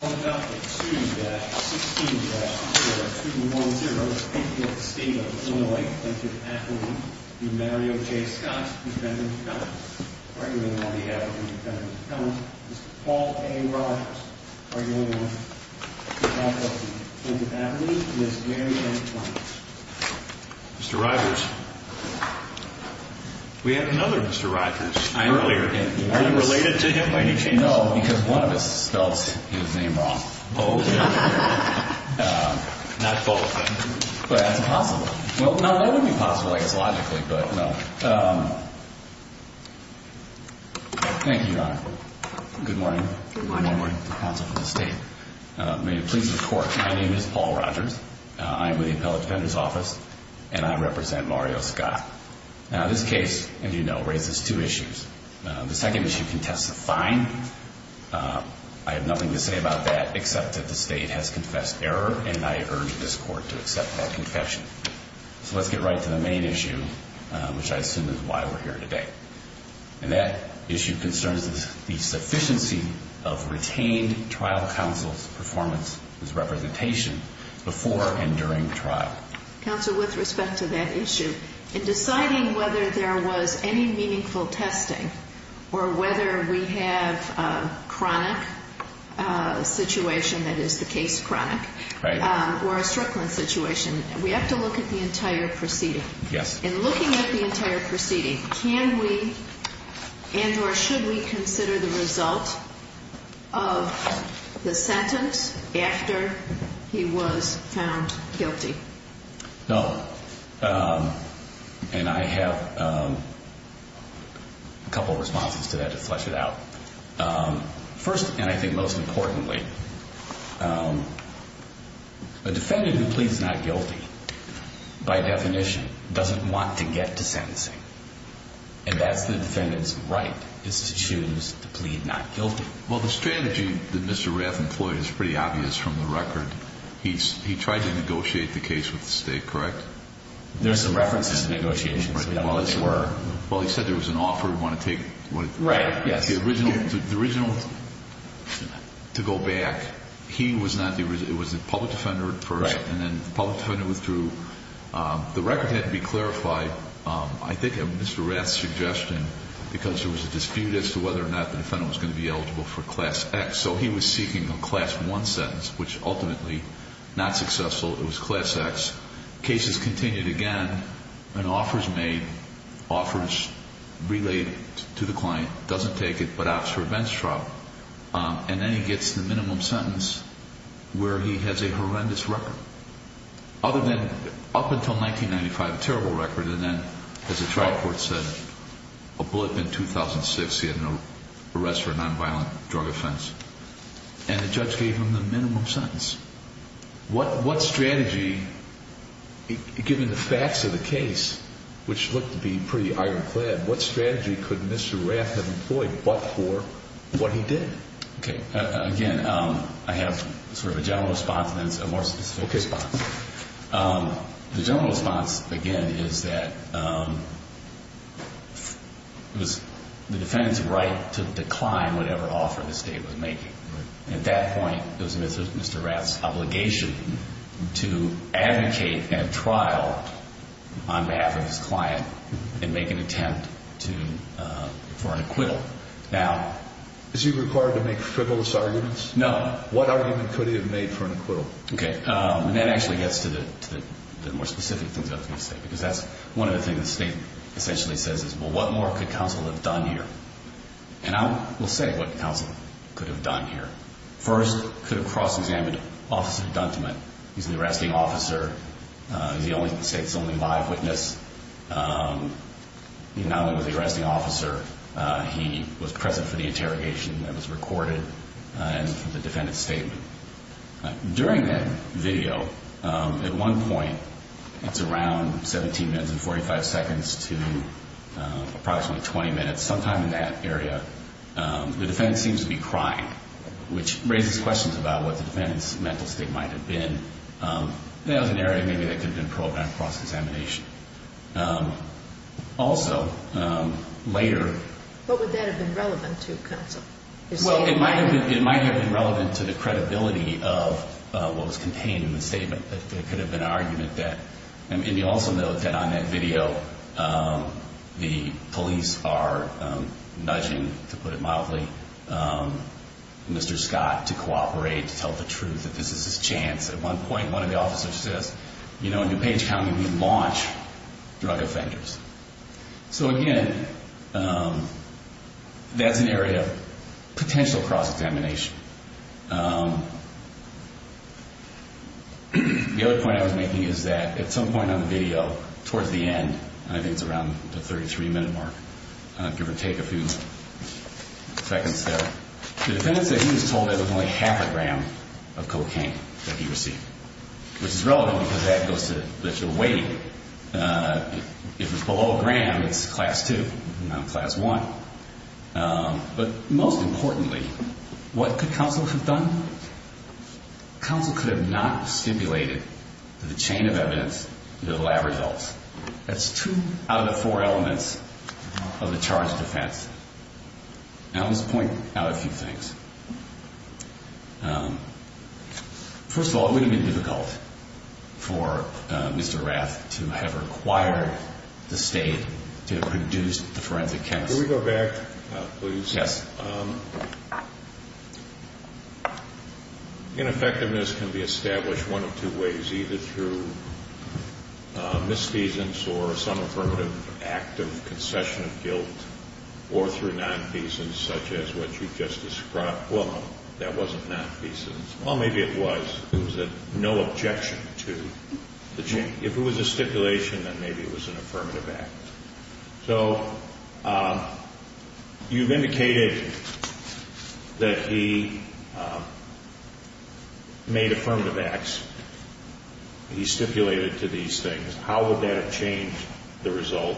On the docket, student badge, 16-0, student 1-0, speaking of the state of Illinois, Clinton Avenue, DeMario J. Scott, defendant's accountants, arguing on behalf of the defendant's accountants, Mr. Paul A. Rogers, arguing on behalf of the Clinton Avenue, Ms. Mary A. Plunkett. Mr. Rogers, we had another Mr. Rogers earlier. Are you related to him by any chance? You know, because one of us spelled his name wrong. Both. Not both. But that's possible. Well, no, that would be possible, I guess, logically, but no. Thank you, Your Honor. Good morning. Good morning. Good morning, counsel from the state. May it please the Court, my name is Paul Rogers. I am with the Appellate Defender's Office, and I represent Mario Scott. Now, this case, as you know, raises two issues. The second issue contests the fine. I have nothing to say about that, except that the state has confessed error, and I urge this Court to accept that confession. So let's get right to the main issue, which I assume is why we're here today. And that issue concerns the sufficiency of retained trial counsel's performance as representation before and during trial. Counsel, with respect to that issue, in deciding whether there was any meaningful testing, or whether we have a chronic situation that is the case chronic, or a strickland situation, we have to look at the entire proceeding. Yes. In looking at the entire proceeding, can we, and or should we consider the result of the sentence after he was found guilty? No. And I have a couple of responses to that to flesh it out. First, and I think most importantly, a defendant who pleads not guilty, by definition, doesn't want to get to sentencing. And that's the defendant's right, is to choose to plead not guilty. Well, the strategy that Mr. Raff employed is pretty obvious from the record. He tried to negotiate the case with the state, correct? There's some references to negotiations. Well, he said there was an offer he wanted to take. Right, yes. The original, to go back, he was not the, it was the public defender at first, and then the public defender withdrew. The record had to be clarified, I think of Mr. Raff's suggestion, because there was a dispute as to whether or not the defendant was going to be eligible for class X. So he was seeking a class one sentence, which ultimately, not successful, it was class X. Case is continued again, an offer is made, offer is relayed to the client, doesn't take it, but opts for advanced trial. And then he gets the minimum sentence, where he has a horrendous record. Other than, up until 1995, a terrible record, and then, as the trial court said, a blip in 2006, he had an arrest for a nonviolent drug offense. And the judge gave him the minimum sentence. What strategy, given the facts of the case, which looked to be pretty ironclad, what strategy could Mr. Raff have employed, but for what he did? Okay, again, I have sort of a general response, and then a more specific response. The general response, again, is that it was the defendant's right to decline whatever offer the state was making. At that point, it was Mr. Raff's obligation to advocate at trial on behalf of his client. Now, is he required to make frivolous arguments? No. What argument could he have made for an acquittal? Okay, and that actually gets to the more specific things I was going to say, because that's one of the things the state essentially says is, well, what more could counsel have done here? And I will say what counsel could have done here. First, could have cross-examined Officer Dunteman. He's an arresting officer. He's the state's only live witness. He not only was an arresting officer, he was present for the interrogation that was recorded and the defendant's statement. During that video, at one point, it's around 17 minutes and 45 seconds to approximately 20 minutes, sometime in that area, the defendant seems to be crying, which raises questions about what the defendant's mental state might have been. That was an area maybe that could have been programmed cross-examination. Also, later... What would that have been relevant to, counsel? Well, it might have been relevant to the credibility of what was contained in the statement. It could have been an argument that... And you also note that on that video, the police are nudging, to put it mildly, Mr. Scott to cooperate, to tell the truth, that this is his chance. At one point, one of the officers says, you know, in DuPage County, we launch drug offenders. So again, that's an area of potential cross-examination. The other point I was making is that at some point on the video, towards the end, and I think it's around the 33-minute mark, give or take a few seconds there, the defendant said he was told there was only half a gram of cocaine that he received, which is relevant because that goes to lift the weight. If it's below a gram, it's class two, not class one. But most importantly, what could counsel have done? Counsel could have not stipulated to the chain of evidence the lab results. That's two out of the four elements of the charge of defense. Now, let's point out a few things. First of all, it would have been difficult for Mr. Rath to have required the state to have produced the forensic chemist. Can we go back, please? Yes. Ineffectiveness can be established one of two ways, either through some affirmative act of concession of guilt or through non-feasance, such as what you just described. Well, no, that wasn't non-feasance. Well, maybe it was. It was a no objection to the chain. If it was a stipulation, then maybe it was an affirmative act. So you've indicated that he made affirmative acts. He stipulated to these things, how would that have changed the result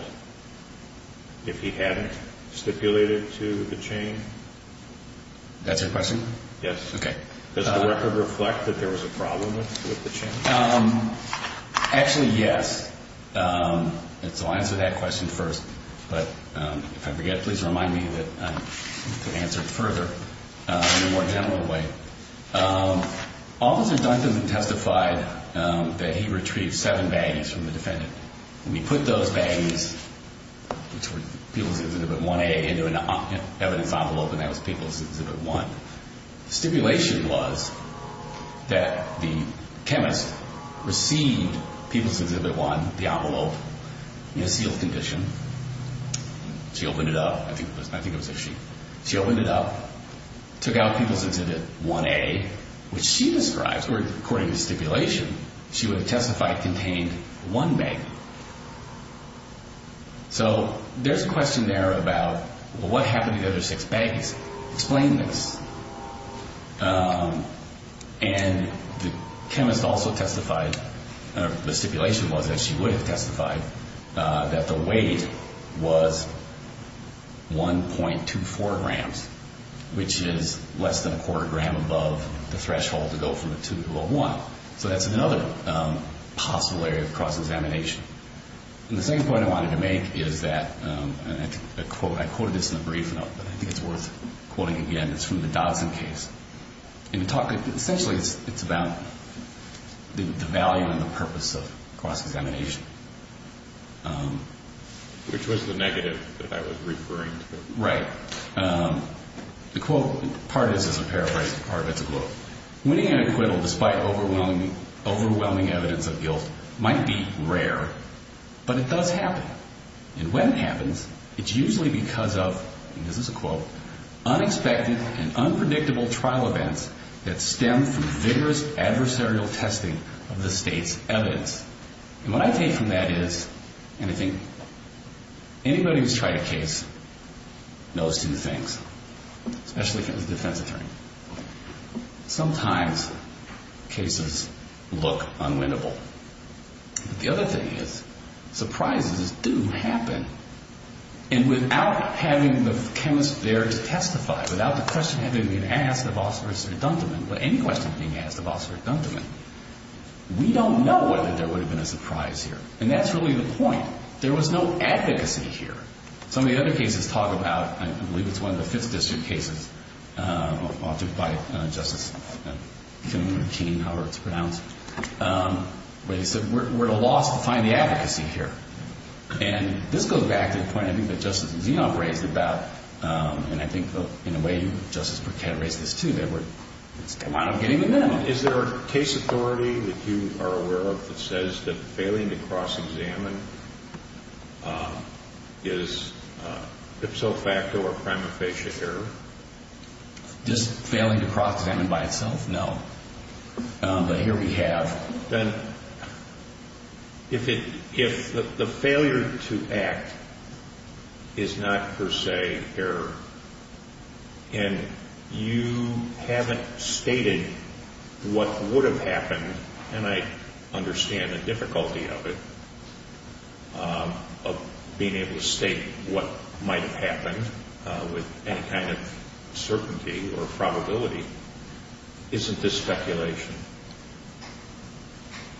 if he hadn't stipulated to the chain? That's your question? Yes. Does the record reflect that there was a problem with the chain? Actually, yes. And so I'll answer that question first. But if I forget, please remind me that I can answer it further in a more general way. Okay. Officer Duncan testified that he retrieved seven bags from the defendant. And he put those bags, which were People's Exhibit 1A, into an evidence envelope, and that was People's Exhibit 1. Stipulation was that the chemist received People's Exhibit 1, the envelope, in a sealed condition. She opened it up. I think it was a sheet. She opened it up, took out People's Exhibit 1A, which she describes, or according to stipulation, she would have testified contained one bag. So there's a question there about, well, what happened to the other six bags? Explain this. And the chemist also testified, or the stipulation was that she would have testified, that the weight was 1.24 grams, which is less than a quarter gram above the threshold to go from the 2 to a 1. So that's another possible area of cross-examination. And the second point I wanted to make is that, and I quoted this in the brief, but I think it's worth quoting again. It's from the Dodson case. Essentially, it's about the value and the purpose of cross-examination. Which was the negative that I was referring to. Right. The quote, part is as a paraphrase, part of it's a quote. Winning an acquittal despite overwhelming evidence of guilt might be rare, but it does happen. And when it happens, it's usually because of, and this is a quote, unexpected and unpredictable trial events that stem from vigorous adversarial testing of the state's evidence. And what I take from that is, and I think anybody who's tried a case knows two things, especially if it was a defense attorney. Sometimes, cases look unwinnable. The other thing is, surprises do happen. And without having the chemist there to testify, without the question having been asked of Officer Sir Dunteman, or any question being asked of Officer Dunteman, we don't know whether there was a case that was successful. And that's really the point. There was no advocacy here. Some of the other cases talk about, I believe it's one of the 5th District cases, I'll do it by Justice Kimberlein-Keene, however it's pronounced. But he said, we're at a loss to find the advocacy here. And this goes back to the point, I think, that Justice Zinop raised about, and I think in a way, Justice Burkett raised this too, that we're kind of getting the minimum. Is there a case authority that you are aware of that says that failing to cross-examine is ipso facto or prima facie error? Does failing to cross-examine by itself? No. But here we have. Then if the failure to act is not per se error, and you haven't stated what would have happened, and I understand the difficulty of it, of being able to state what might have happened with any kind of certainty or probability, isn't this speculation?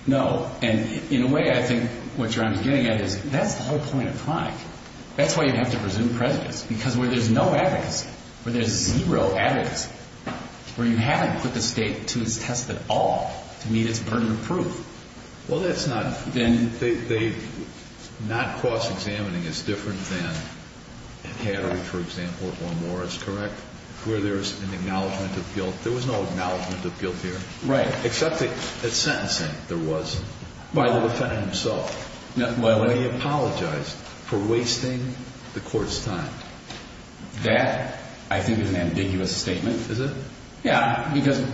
No. And in a way, I think what you're getting at is, that's the whole point of crime. That's why you have to presume prejudice. Because where there's no advocacy, where there's zero advocacy, where you haven't put the state to its test at all to meet its burden of proof. Well, that's not. And they, not cross-examining is different than Hattery, for example, or Morris, correct? Where there's an acknowledgement of guilt. There was no acknowledgement of guilt here. Right. Except that at sentencing, there was, by the defendant himself. When he apologized for wasting the court's time. That, I think, is an ambiguous statement. Is it? Yeah. Because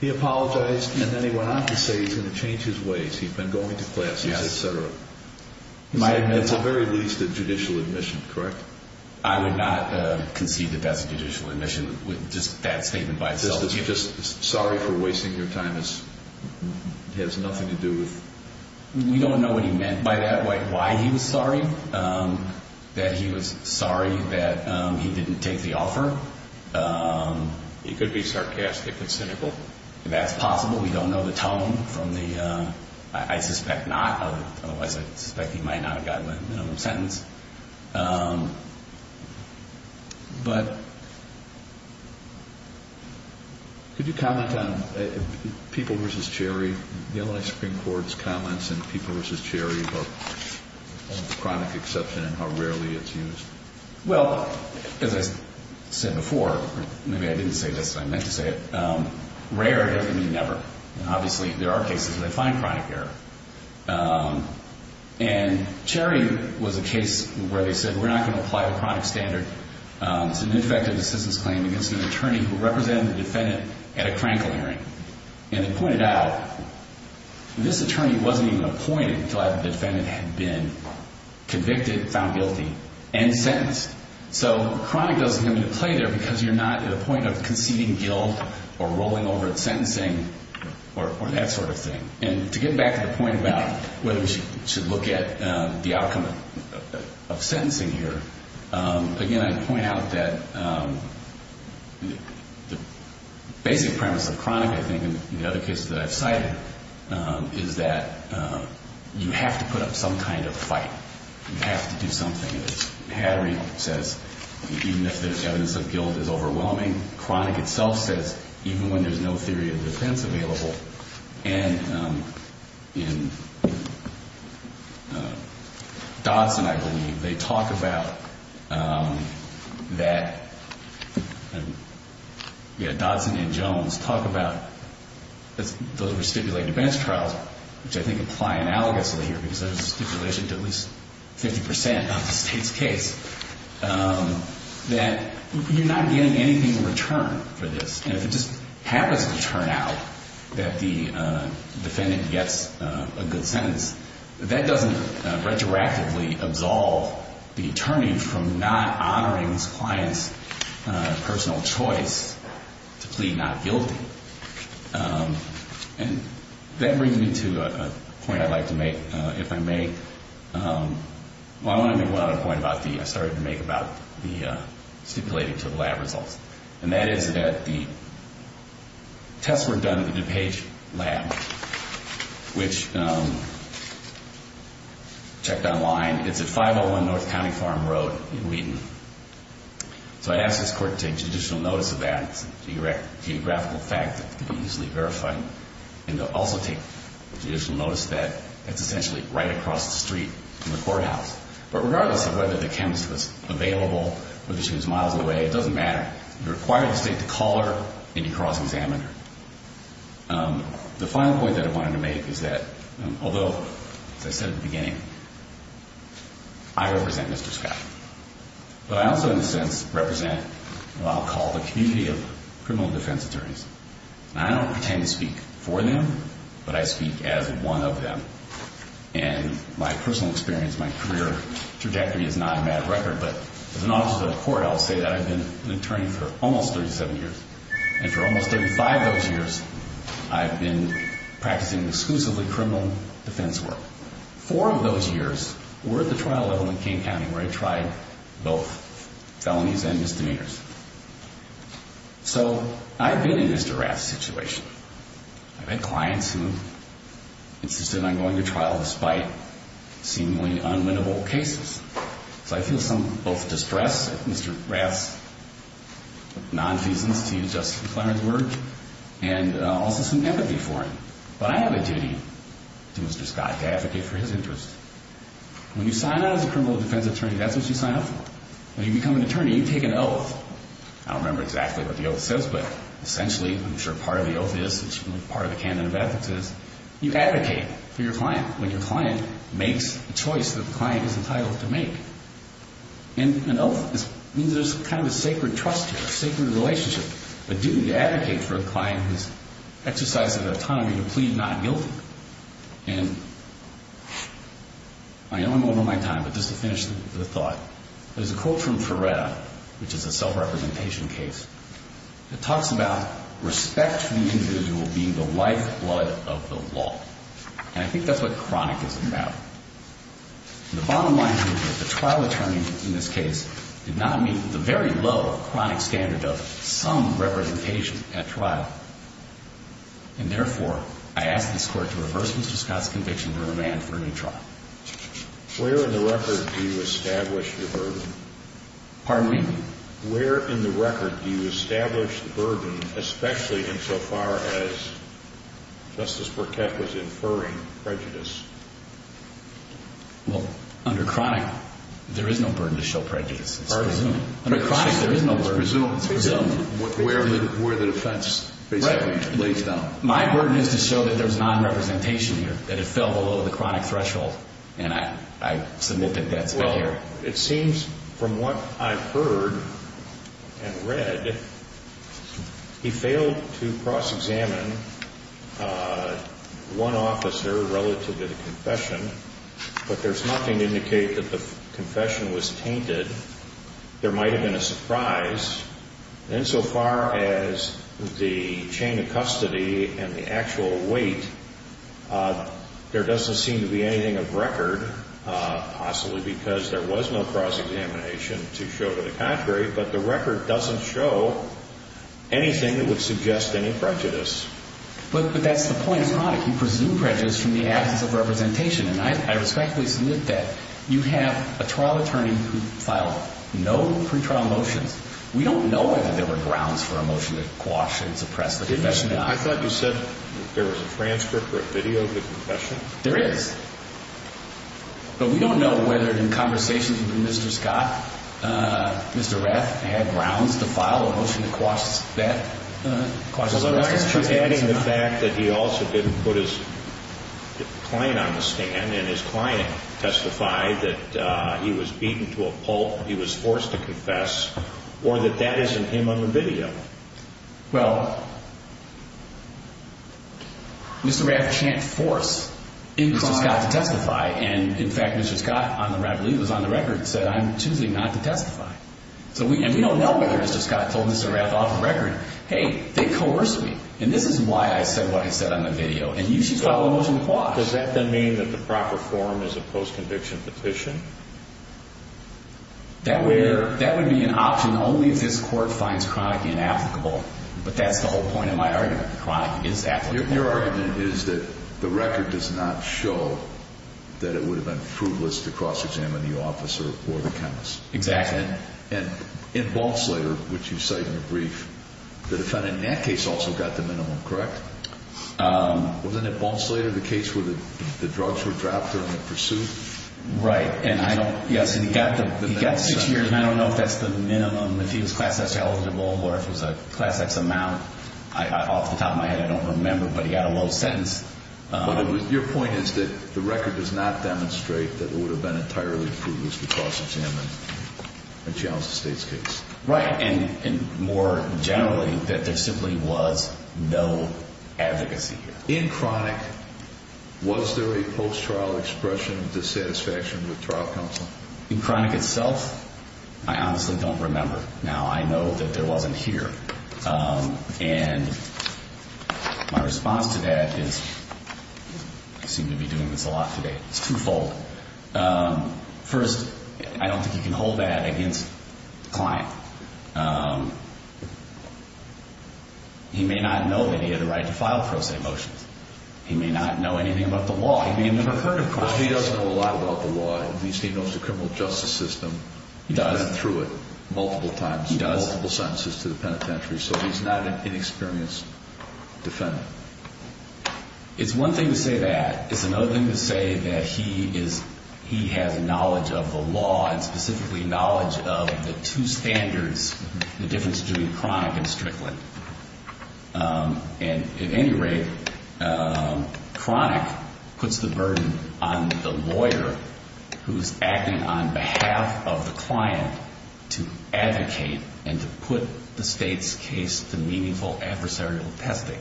he apologized, and then he went on to say he's going to change his ways. He's been going to classes, et cetera. That's, at the very least, a judicial admission, correct? I would not concede that that's a judicial admission, just that statement by itself. Just sorry for wasting your time has nothing to do with... We don't know what he meant by that, why he was sorry. That he was sorry that he didn't take the offer. He could be sarcastic and cynical. That's possible. We don't know the tone from the... I suspect not. Otherwise, I suspect he might not have gotten a minimum sentence. But... Could you comment on People v. Cherry? The L.A. Supreme Court's comments in People v. Cherry about chronic exception and how rarely it's used. Well, as I said before, maybe I didn't say this, I meant to say it. Rare doesn't mean never. Obviously, there are cases where they find chronic error. Cherry was a case where they said, we're not going to apply a chronic standard to an ineffective assistance claim against an attorney who represented the defendant at a crankle hearing. And they pointed out, this attorney wasn't even appointed until the defendant had been convicted, found guilty, and sentenced. Chronic doesn't have any play there because you're not at a point of conceding guilt or rolling over at sentencing or that sort of thing. And to get back to the point about whether we should look at the outcome of sentencing here, again, I'd point out that the basic premise of chronic, I think, in the other cases that I've cited, is that you have to put up some kind of fight. You have to do something. Hattery says, even if the evidence of guilt is overwhelming, chronic itself says, even when there's no theory of defense available. And in Dodson, I believe, they talk about that, yeah, Dodson and Jones talk about, those were stipulated defense trials, which I think apply analogously here, because there's a stipulation to at least 50% of the state's case, that you're not getting anything in return for this. And if it just happens to turn out that the defendant gets a good sentence, that doesn't retroactively absolve the attorney from not honoring his client's personal choice to plead not guilty. And that brings me to a point I'd like to make, if I may. Well, I want to make one other point I started to make about the stipulated to the lab results, and that is that the tests were done at the DuPage lab, which, checked online, it's at 501 North County Farm Road in Wheaton. So I asked this court to take judicial notice of that, it's a geographical fact that could be easily verified, and to also take judicial notice that it's essentially right across the street from the courthouse. But regardless of whether the chemist was available, whether she was miles away, it doesn't matter. You require the state to call her, and you cross-examine her. The final point that I wanted to make is that, although, as I said at the beginning, I represent Mr. Scott, but I also, in a sense, represent, what I'll call the community of criminal defense attorneys. I don't pretend to speak for them, but I speak as one of them. And my personal experience, my career trajectory is not a mad record, but as an officer of the court, I'll say that I've been an attorney for almost 37 years. And for almost 35 of those years, I've been practicing exclusively criminal defense work. Four of those years were at the trial level in King County, where I tried both felonies and misdemeanors. So I've been in this duress situation. I've had clients who insisted on going to trial despite seemingly unwinnable cases. So I feel some, both distress at Mr. Raff's nonfeasance, to use Justice McClaren's word, and also some empathy for him. But I have a duty to Mr. Scott to advocate for his interests. When you sign on as a criminal defense attorney, that's what you sign up for. When you become an attorney, you take an oath. I don't remember exactly what the oath says, but essentially, I'm sure part of the oath is, part of the canon of ethics is, you advocate for your client when your client makes a choice that the client is entitled to make. And an oath means there's kind of a sacred trust here, a sacred relationship, a duty to advocate for a client who's exercised an autonomy to plead not guilty. And I know I'm over my time, but just to finish the thought, there's a quote from Ferretta, which is a self-representation case. It talks about respect for the individual being the lifeblood of the law. And I think that's what chronic is about. The bottom line here is that the trial attorney in this case did not meet the very low chronic standard of some representation at trial. And therefore, I ask this Court to reverse Mr. Scott's conviction and remand for a new trial. Where in the record do you establish the burden? Pardon me? Where in the record do you establish the burden, especially insofar as Justice Burkett was inferring prejudice? Well, under chronic, there is no burden to show prejudice. Pardon me? Under chronic, there is no burden. It's presumed. Where the defense basically lays down. My burden is to show that there's non-representation here, that it fell below the chronic threshold. And I submit that that's not here. It seems from what I've heard and read, he failed to cross-examine one officer relative to the confession. But there's nothing to indicate that the confession was tainted. There might have been a surprise. Insofar as the chain of custody and the actual weight, there doesn't seem to be anything of record, possibly because there was no cross-examination to show to the contrary. But the record doesn't show anything that would suggest any prejudice. But that's the point. It's chronic. You presume prejudice from the absence of representation. And I respectfully submit that you have a trial attorney who filed no pretrial motions. We don't know whether there were grounds for a motion to quash and suppress the confession. I thought you said there was a transcript or a video of the confession. There is. But we don't know whether in conversations with Mr. Scott, Mr. Reth had grounds to file a motion to quash that. Although I am adding the fact that he also didn't put his client on the stand. And his client testified that he was beaten to a pulp. He was forced to confess. Or that that isn't him on the video. Well, Mr. Reth can't force Mr. Scott to testify. And in fact, Mr. Scott, I believe, was on the record and said, I'm choosing not to testify. So we don't know whether Mr. Scott told Mr. Reth off the record, hey, they coerced me. And this is why I said what I said on the video. And you should file a motion to quash. Does that then mean that the proper form is a post-conviction petition? That would be an option only if this court finds Cronick inapplicable. But that's the whole point of my argument. Cronick is applicable. Your argument is that the record does not show that it would have been fruitless to cross-examine the officer or the chemist. Exactly. And in Balslater, which you cite in your brief, the defendant in that case also got the minimum, correct? Wasn't it Balslater, the case where the drugs were dropped during the pursuit? Right. Yes. And he got six years. And I don't know if that's the minimum, if he was class X eligible, or if it was a class X amount. Off the top of my head, I don't remember. But he got a low sentence. Your point is that the record does not demonstrate that it would have been entirely fruitless to cross-examine a Johnson State's case. Right. And more generally, that there simply was no advocacy here. In Cronick, was there a post-trial expression of dissatisfaction with trial counsel? In Cronick itself, I honestly don't remember. Now, I know that there wasn't here. And my response to that is, I seem to be doing this a lot today. It's twofold. First, I don't think you can hold that against the client. He may not know that he had the right to file pro se motions. He may not know anything about the law. He may have never heard of Cronick. But he does know a lot about the law. At least he knows the criminal justice system. He's been through it multiple times. He's got multiple sentences to the penitentiary. So he's not an inexperienced defendant. It's one thing to say that. It's another thing to say that he has knowledge of the law, and specifically knowledge of the two standards, the difference between Cronick and Strickland. And at any rate, Cronick puts the burden on the lawyer who's acting on behalf of the client to advocate and to put the state's case to meaningful adversarial testing.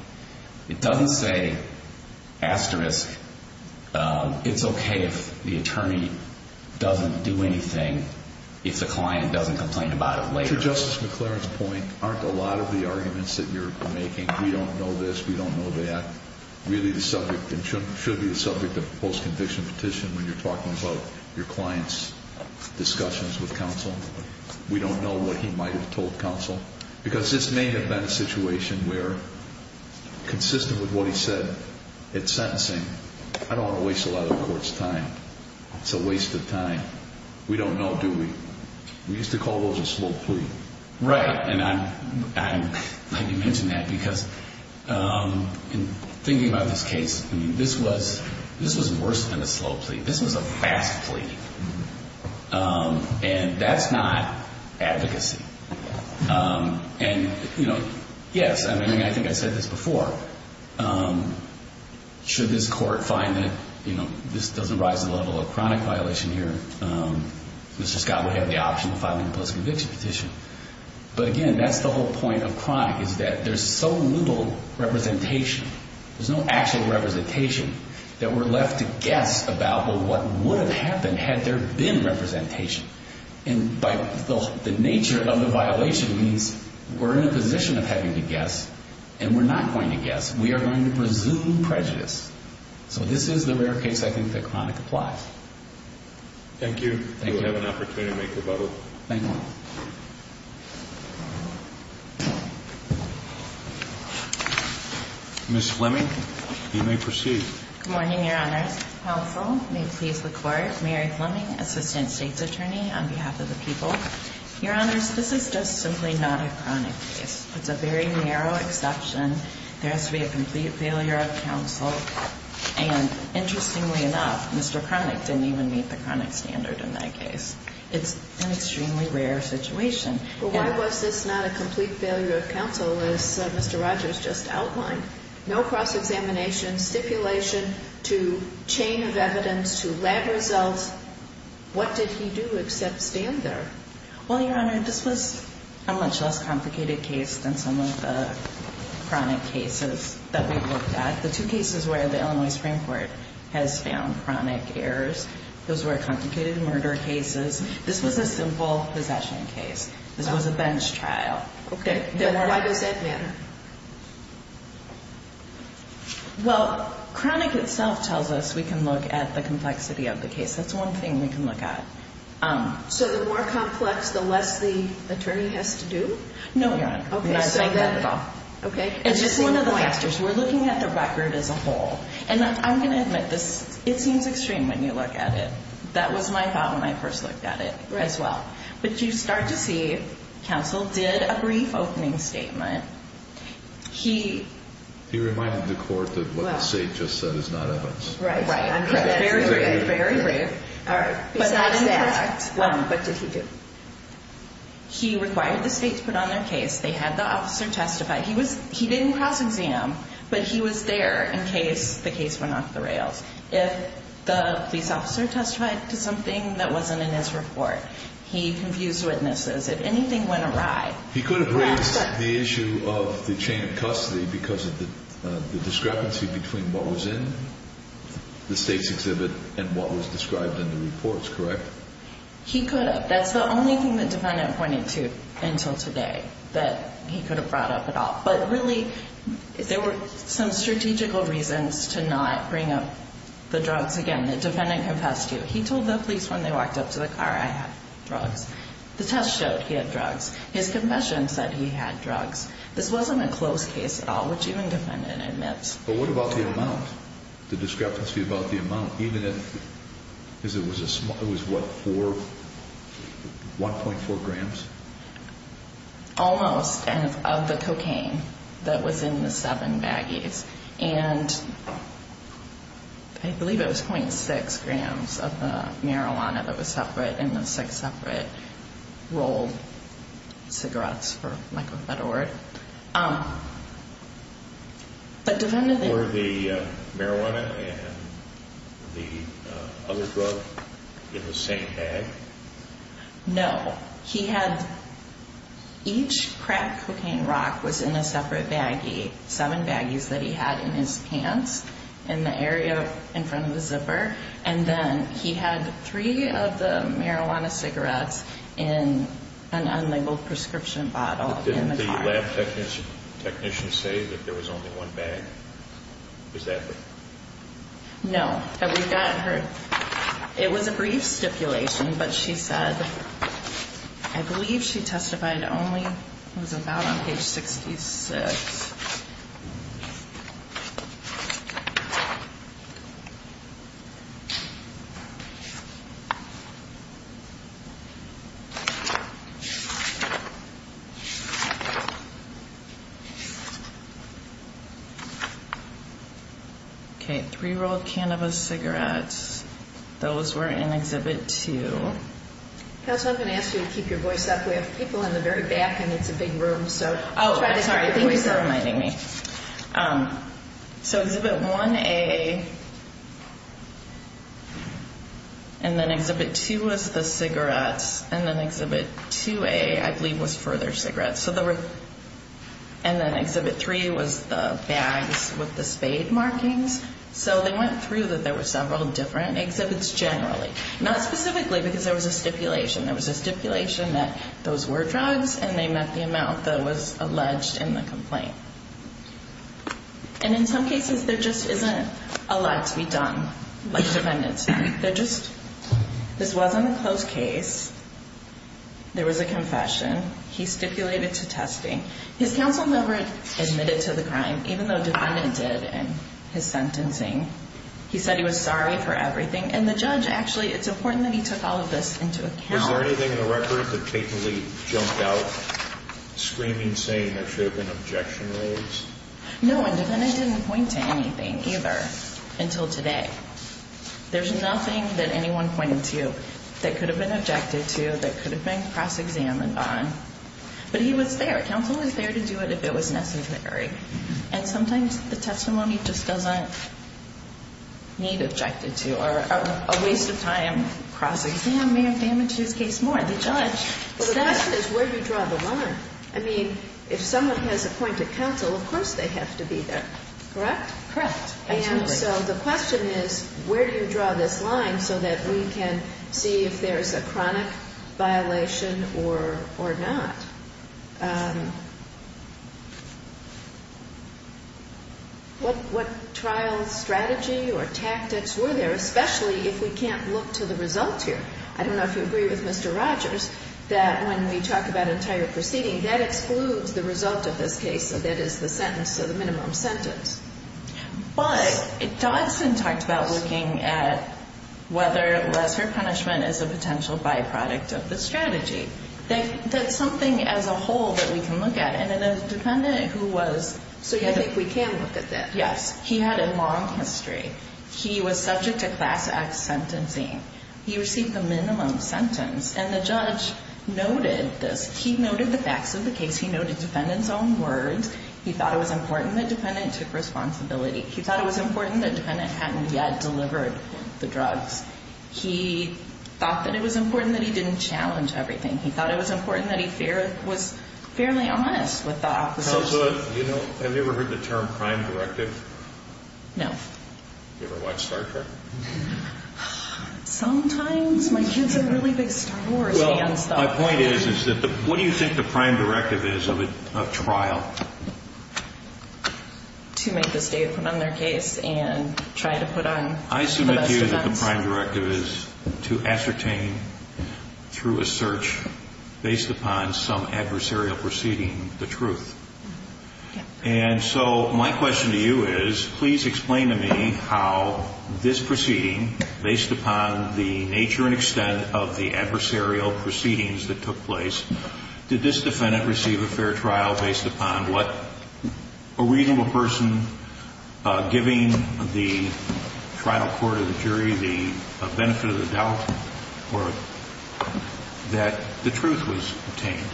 It doesn't say, asterisk, it's okay if the attorney doesn't do anything if the client doesn't complain about it later. To Justice McLaren's point, aren't a lot of the arguments that you're making, we don't know this, we don't know that, really the subject, and should be the subject of a post-conviction petition when you're talking about your client's discussions with counsel. We don't know what he might have told counsel. Because this may have been a situation where, consistent with what he said at sentencing, I don't want to waste a lot of the court's time. It's a waste of time. We don't know, do we? We used to call those a slow plea. Right. And I'm glad you mentioned that because in thinking about this case, this was worse than a slow plea. This was a fast plea. And that's not advocacy. And yes, I think I said this before, should this court find that this doesn't rise to the level of a chronic violation here, Mr. Scott would have the option of filing a post-conviction petition. But again, that's the whole point of chronic, is that there's so little representation, there's no actual representation, that we're left to guess about what would have happened had there been representation. And by the nature of the violation means, we're in a position of having to guess, and we're not going to guess. We are going to presume prejudice. So this is the rare case I think that chronic applies. Thank you. Thank you. We'll have an opportunity to make rebuttal. Thank you. Ms. Fleming, you may proceed. Good morning, Your Honors. Counsel, may it please the Court. Mary Fleming, Assistant State's Attorney on behalf of the people. Your Honors, this is just simply not a chronic case. It's a very narrow exception. There has to be a complete failure of counsel. And interestingly enough, Mr. Chronic didn't even meet the chronic standard in that case. It's an extremely rare situation. But why was this not a complete failure of counsel, as Mr. Rogers just outlined? No cross-examination, stipulation to chain of evidence, to lab results. What did he do except stand there? Well, Your Honor, this was a much less complicated case than some of the chronic cases that we've looked at. The two cases where the Illinois Supreme Court has found chronic errors, those were complicated murder cases. This was a simple possession case. This was a bench trial. Okay, then why does that matter? Well, chronic itself tells us we can look at the complexity of the case. That's one thing we can look at. So the more complex, the less the attorney has to do? No, Your Honor. Okay, so then, okay. It's just one of the factors. We're looking at the record as a whole. And I'm going to admit this. It seems extreme when you look at it. That was my thought when I first looked at it as well. But you start to see counsel did a brief opening statement. He reminded the court that what the state just said is not evidence. Right, right. I'm correct. Very brave, very brave. All right, besides that, what did he do? He required the state to put on their case. They had the officer testify. He didn't cross-exam, but he was there in case the case went off the rails. If the police officer testified to something that wasn't in his report, he confused witnesses. If anything went awry. He could have raised the issue of the chain of custody because of the discrepancy between what was in the state's exhibit and what was described in the reports, correct? He could have. That's the only thing the defendant pointed to until today, that he could have brought up at all. But really, there were some strategical reasons to not bring up the drugs again. The defendant confessed to it. He told the police when they walked up to the car, I had drugs. The test showed he had drugs. His confession said he had drugs. This wasn't a closed case at all, which even defendant admits. But what about the amount? The discrepancy about the amount, even if it was what, 1.4 grams? Almost, of the cocaine that was in the seven baggies. And I believe it was 0.6 grams of the marijuana that was separate in the six separate rolled cigarettes, for lack of a better word. Were the marijuana and the other drug in the same bag? No. He had each crack cocaine rock was in a separate baggie, seven baggies that he had in his pants in the area in front of the zipper. And then he had three of the marijuana cigarettes in an unlabeled prescription bottle. But didn't the lab technicians say that there was only one bag? Was that it? No, but we got her. It was a brief stipulation, but she said, I believe she testified only was about on page 66. Okay, three rolled cannabis cigarettes. Those were in Exhibit 2. Counsel, I'm going to ask you to keep your voice up. We have people in the very back and it's a big room. So, oh, I'm sorry. Thank you for reminding me. Um, so Exhibit 1A. And then Exhibit 2 was the cigarettes. And then Exhibit 2A, I believe, was further cigarettes. And then Exhibit 3 was the bags with the spade markings. So they went through that there were several different exhibits generally, not specifically because there was a stipulation. There was a stipulation that those were drugs, and they met the amount that was alleged in the complaint. And in some cases, there just isn't a lot to be done like defendants. They're just, this wasn't a closed case. There was a confession. He stipulated to testing. His counsel never admitted to the crime, even though defendants did in his sentencing. He said he was sorry for everything. And the judge, actually, it's important that he took all of this into account. Is there anything in the record that capably jumped out, screaming, saying there should have been objection raised? No, a defendant didn't point to anything, either, until today. There's nothing that anyone pointed to that could have been objected to, that could have been cross-examined on. But he was there. Counsel was there to do it if it was necessary. And sometimes the testimony just doesn't need objected to, or a waste of time cross-exam may have damaged his case more. The judge. Well, the question is, where do you draw the line? I mean, if someone has a point of counsel, of course they have to be there. Correct? Correct. And so the question is, where do you draw this line so that we can see if there's a chronic violation or not? What trial strategy or tactics were there, especially if we can't look to the results here? I don't know if you agree with Mr. Rogers, that when we talk about entire proceeding, that excludes the result of this case, so that is the sentence, so the minimum sentence. But Dodson talked about looking at whether lesser punishment is a potential byproduct of the strategy. That's something as a whole that we can look at. And in a defendant who was... So you think we can look at that? Yes. He had a long history. He was subject to Class X sentencing. He received the minimum sentence. And the judge noted this. He noted the facts of the case. He noted the defendant's own words. He thought it was important that the defendant took responsibility. He thought it was important that the defendant hadn't yet delivered the drugs. He thought that it was important that he didn't challenge everything. He thought it was important that he was fairly honest with the officers. You know, have you ever heard the term crime directive? No. You ever watch Star Trek? Oh, sometimes my kids are really big Star Wars fans, though. My point is, what do you think the crime directive is of a trial? To make the state put on their case and try to put on the best defense. I submit to you that the crime directive is to ascertain, through a search, based upon some adversarial proceeding, the truth. Yeah. And so my question to you is, please explain to me how this proceeding, based upon the nature and extent of the adversarial proceedings that took place, did this defendant receive a fair trial based upon what? A reasonable person giving the trial court or the jury the benefit of the doubt that the truth was obtained?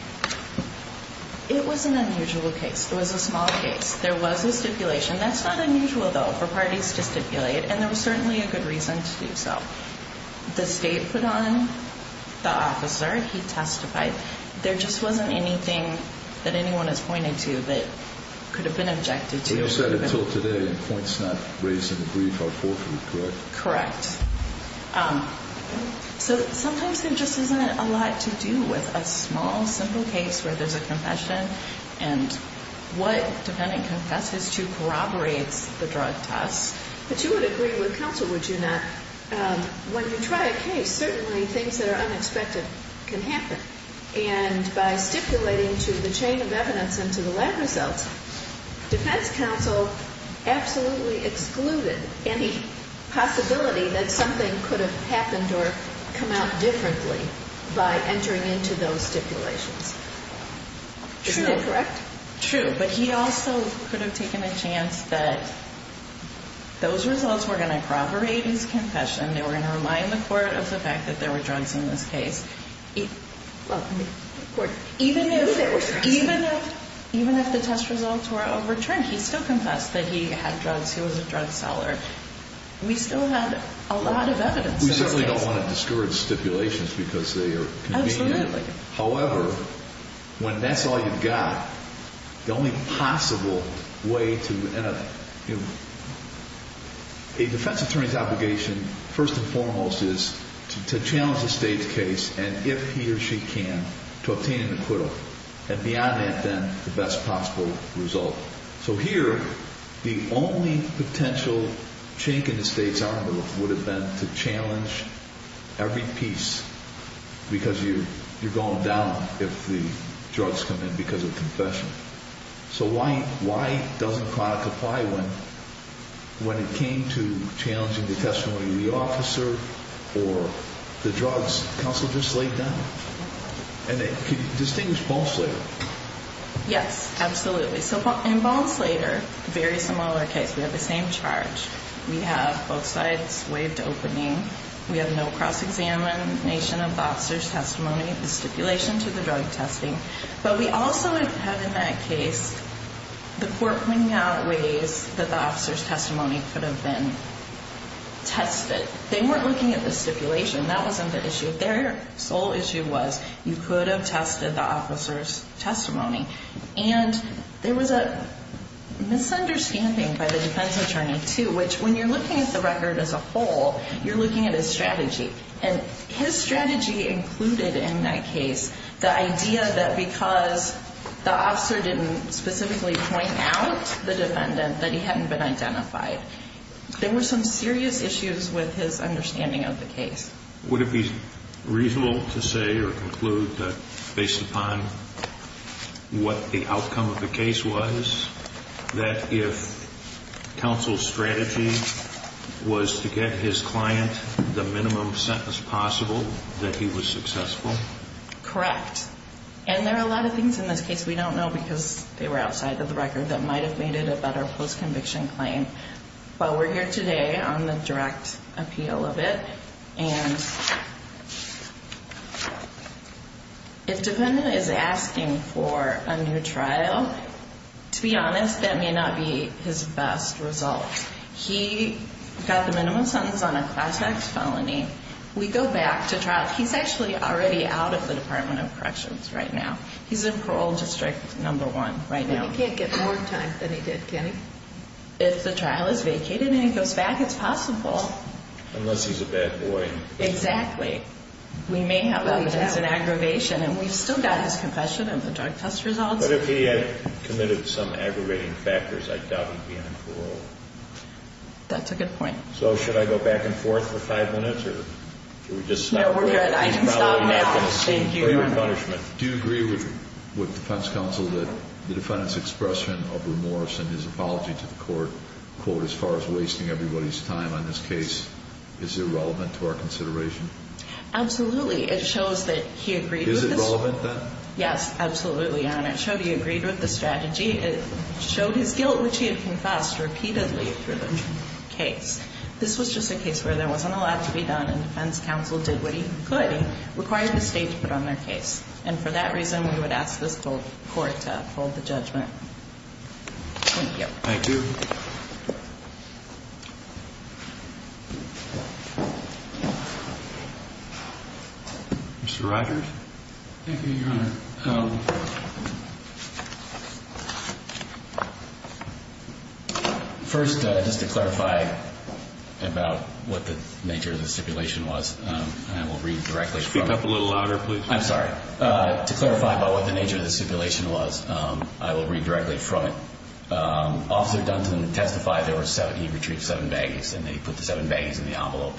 Well, it was an unusual case. It was a small case. There was a stipulation. That's not unusual, though, for parties to stipulate. And there was certainly a good reason to do so. The state put on the officer. He testified. There just wasn't anything that anyone has pointed to that could have been objected to. So you said, until today, points not raised in the brief are forthwith, correct? Correct. So sometimes there just isn't a lot to do with a small, simple case where there's a confession and what defendant confesses to corroborates the drug test. But you would agree with counsel, would you not? When you try a case, certainly things that are unexpected can happen. And by stipulating to the chain of evidence and to the lab results, defense counsel absolutely excluded any possibility that something could have happened or come out differently by entering into those stipulations. Is that correct? True. But he also could have taken a chance that those results were going to corroborate his confession. They were going to remind the court of the fact that there were drugs in this case. Well, even if the test results were overturned, he still confessed that he had drugs. He was a drug seller. We still had a lot of evidence. We certainly don't want to discourage stipulations because they are convenient. However, when that's all you've got, the only possible way to... A defense attorney's obligation, first and foremost, is to challenge the state's case and if he or she can, to obtain an acquittal. And beyond that, then, the best possible result. So here, the only potential chink in the state's armor would have been to challenge every piece because you're going down if the drugs come in because of confession. So why doesn't product apply when it came to challenging the testimony of the officer or the drugs counsel just laid down? And could you distinguish Ball Slater? Yes, absolutely. So in Ball Slater, very similar case. We have the same charge. We have both sides waived opening. We have no cross-examination of the officer's testimony, the stipulation to the drug testing. But we also have, in that case, the court pointing out ways that the officer's testimony could have been tested. They weren't looking at the stipulation. That wasn't the issue. Their sole issue was you could have tested the officer's testimony. And there was a misunderstanding by the defense attorney, too, which when you're looking at the record as a whole, you're looking at his strategy. And his strategy included, in that case, the idea that because the officer didn't specifically point out the defendant, that he hadn't been identified. There were some serious issues with his understanding of the case. Would it be reasonable to say or conclude that, based upon what the outcome of the case was, that if counsel's strategy was to get his client the minimum sentence possible, that he was successful? Correct. And there are a lot of things in this case we don't know because they were outside of the record that might have made it a better post-conviction claim. But we're here today on the direct appeal of it. And if defendant is asking for a new trial, to be honest, that may not be his best result. He got the minimum sentence on a class-X felony. We go back to trial. He's actually already out of the Department of Corrections right now. He's in parole district number one right now. He can't get more time than he did, can he? If the trial is vacated and he goes back, it's possible. Unless he's a bad boy. Exactly. We may have an aggravation. And we've still got his confession and the drug test results. But if he had committed some aggravating factors, I doubt he'd be on parole. That's a good point. So should I go back and forth for five minutes or should we just stop? No, we're good. I can stop now. Thank you. Do you agree with defense counsel that the defendant's expression of remorse and his apology to the court, quote, as far as wasting everybody's time on this case, is irrelevant to our consideration? Absolutely. It shows that he agreed. Is it relevant then? Yes, absolutely. And it showed he agreed with the strategy. It showed his guilt, which he had confessed repeatedly through the case. This was just a case where there wasn't a lot to be done. And defense counsel did what he could. And the court's judgment was that the defendant's confession and his apology required the state to put on their case. And for that reason, we would ask this court to hold the judgment. Thank you. Thank you. Mr. Rogers? Thank you, Your Honor. Speak up a little louder, please. I'm sorry. To clarify about what the nature of the stipulation was, I will read directly from it. Officer Dunton testified there were seven, he retrieved seven baggies. And he put the seven baggies in the envelope.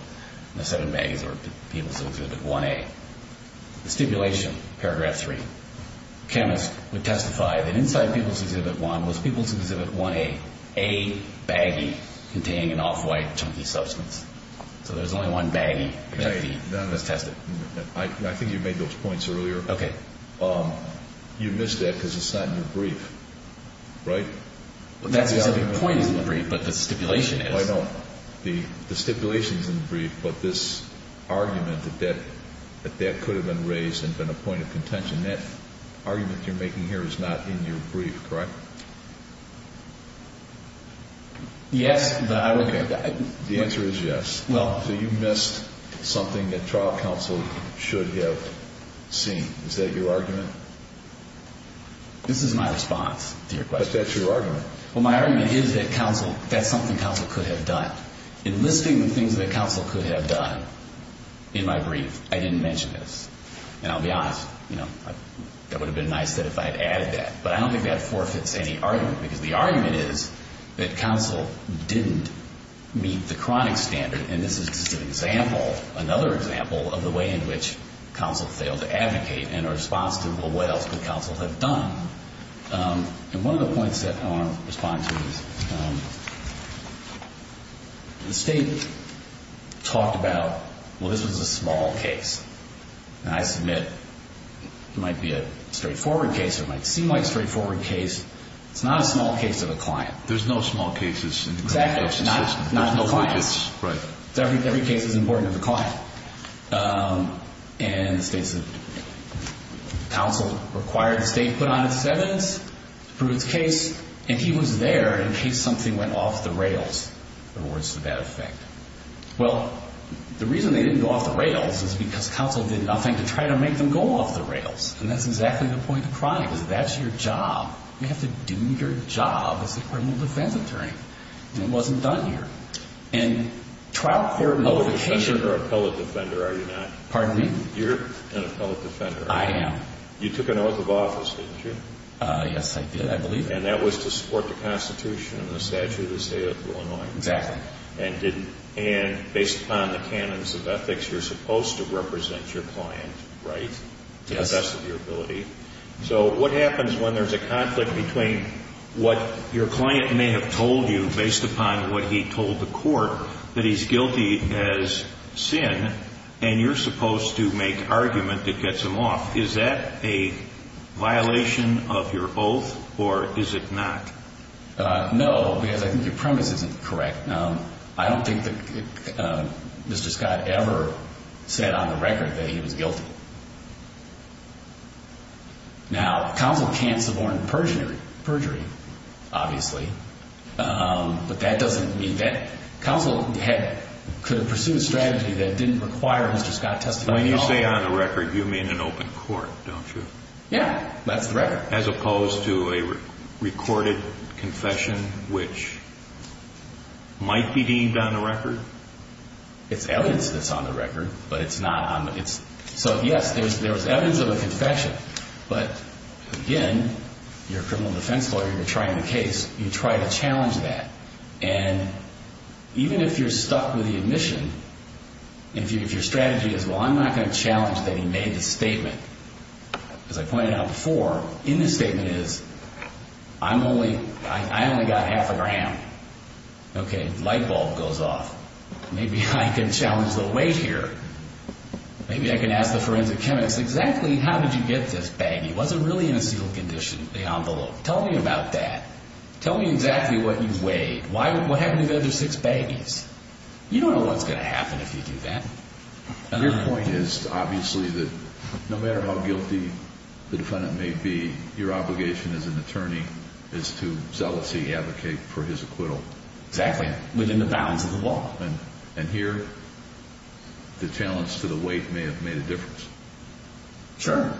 And the seven baggies were People's Exhibit 1A. The stipulation, paragraph three. Chemist would testify that inside People's Exhibit 1 was People's Exhibit 1A. A baggie containing an off-white, chunky substance. So there's only one baggie that was tested. I think you made those points earlier. Okay. You missed that because it's not in your brief, right? That specific point is in the brief, but the stipulation is. I know. The stipulation is in the brief, but this argument that that could have been raised and been a point of contention, that argument you're making here is not in your brief, correct? Yes, but I would... The answer is yes. So you missed something that trial counsel should have seen. Is that your argument? This is my response to your question. But that's your argument. Well, my argument is that counsel, that's something counsel could have done. In listing the things that counsel could have done in my brief, I didn't mention this. And I'll be honest, you know, that would have been nice if I had added that. But I don't think that forfeits any argument. Because the argument is that counsel didn't meet the chronic standard. And this is just an example, another example of the way in which counsel failed to advocate in response to what else could counsel have done. And one of the points that I want to respond to is the state talked about, well, this was a small case. And I submit it might be a straightforward case. It might seem like a straightforward case. It's not a small case of a client. There's no small cases in the criminal justice system. Exactly. There's no clients. Right. Every case is important to the client. And counsel required the state put on its evidence to prove its case. And he was there in case something went off the rails towards the bad effect. Well, the reason they didn't go off the rails is because counsel did nothing to try to make them go off the rails. And that's exactly the point of crime, is that's your job. You have to do your job as a criminal defense attorney. And it wasn't done here. And trial clarification You're an appellate defender, are you not? Pardon me? You're an appellate defender. I am. You took an oath of office, didn't you? Yes, I did. I believe it. And that was to support the Constitution and the Statute of the State of Illinois. Exactly. And based upon the canons of ethics, you're supposed to represent your client, right, to the best of your ability. So what happens when there's a conflict between what your client may have told you, based upon what he told the court, that he's guilty as sin and you're supposed to make argument that gets him off? Is that a violation of your oath or is it not? No, because I think your premise isn't correct. I don't think that Mr. Scott ever said on the record that he was guilty. Now, counsel can't suborn perjury, obviously. But that doesn't mean that counsel could pursue a strategy that didn't require Mr. Scott testifying at all. When you say on the record, you mean an open court, don't you? Yeah, that's the record. As opposed to a recorded confession, which might be deemed on the record? It's evidence that's on the record, but it's not. So yes, there was evidence of a confession. But again, you're a criminal defense lawyer. You're trying a case. You try to challenge that. And even if you're stuck with the admission, if your strategy is, well, I'm not going to challenge that he made the statement, as I pointed out before, in the statement is, I only got half a gram. OK, light bulb goes off. Maybe I can challenge the weight here. Maybe I can ask the forensic chemist, exactly how did you get this baggie? Was it really in a sealed condition, the envelope? Tell me about that. Tell me exactly what you weighed. Why, what happened to the other six baggies? You don't know what's going to happen if you do that. Your point is, obviously, that no matter how guilty the defendant may be, your obligation as an attorney is to zealously advocate for his acquittal. Exactly, within the bounds of the law. And here, the challenge to the weight may have made a difference. Sure,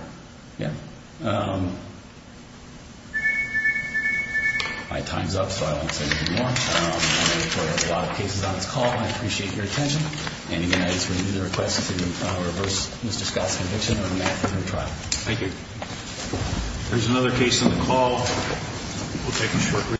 yeah. My time's up, so I won't say anything more. I'm ready for a lot of cases on this call. I appreciate your attention. And again, I just renew the request to reverse Mr. Scott's conviction. I'm ready for a new trial. Thank you. There's another case on the call. We'll take a short break.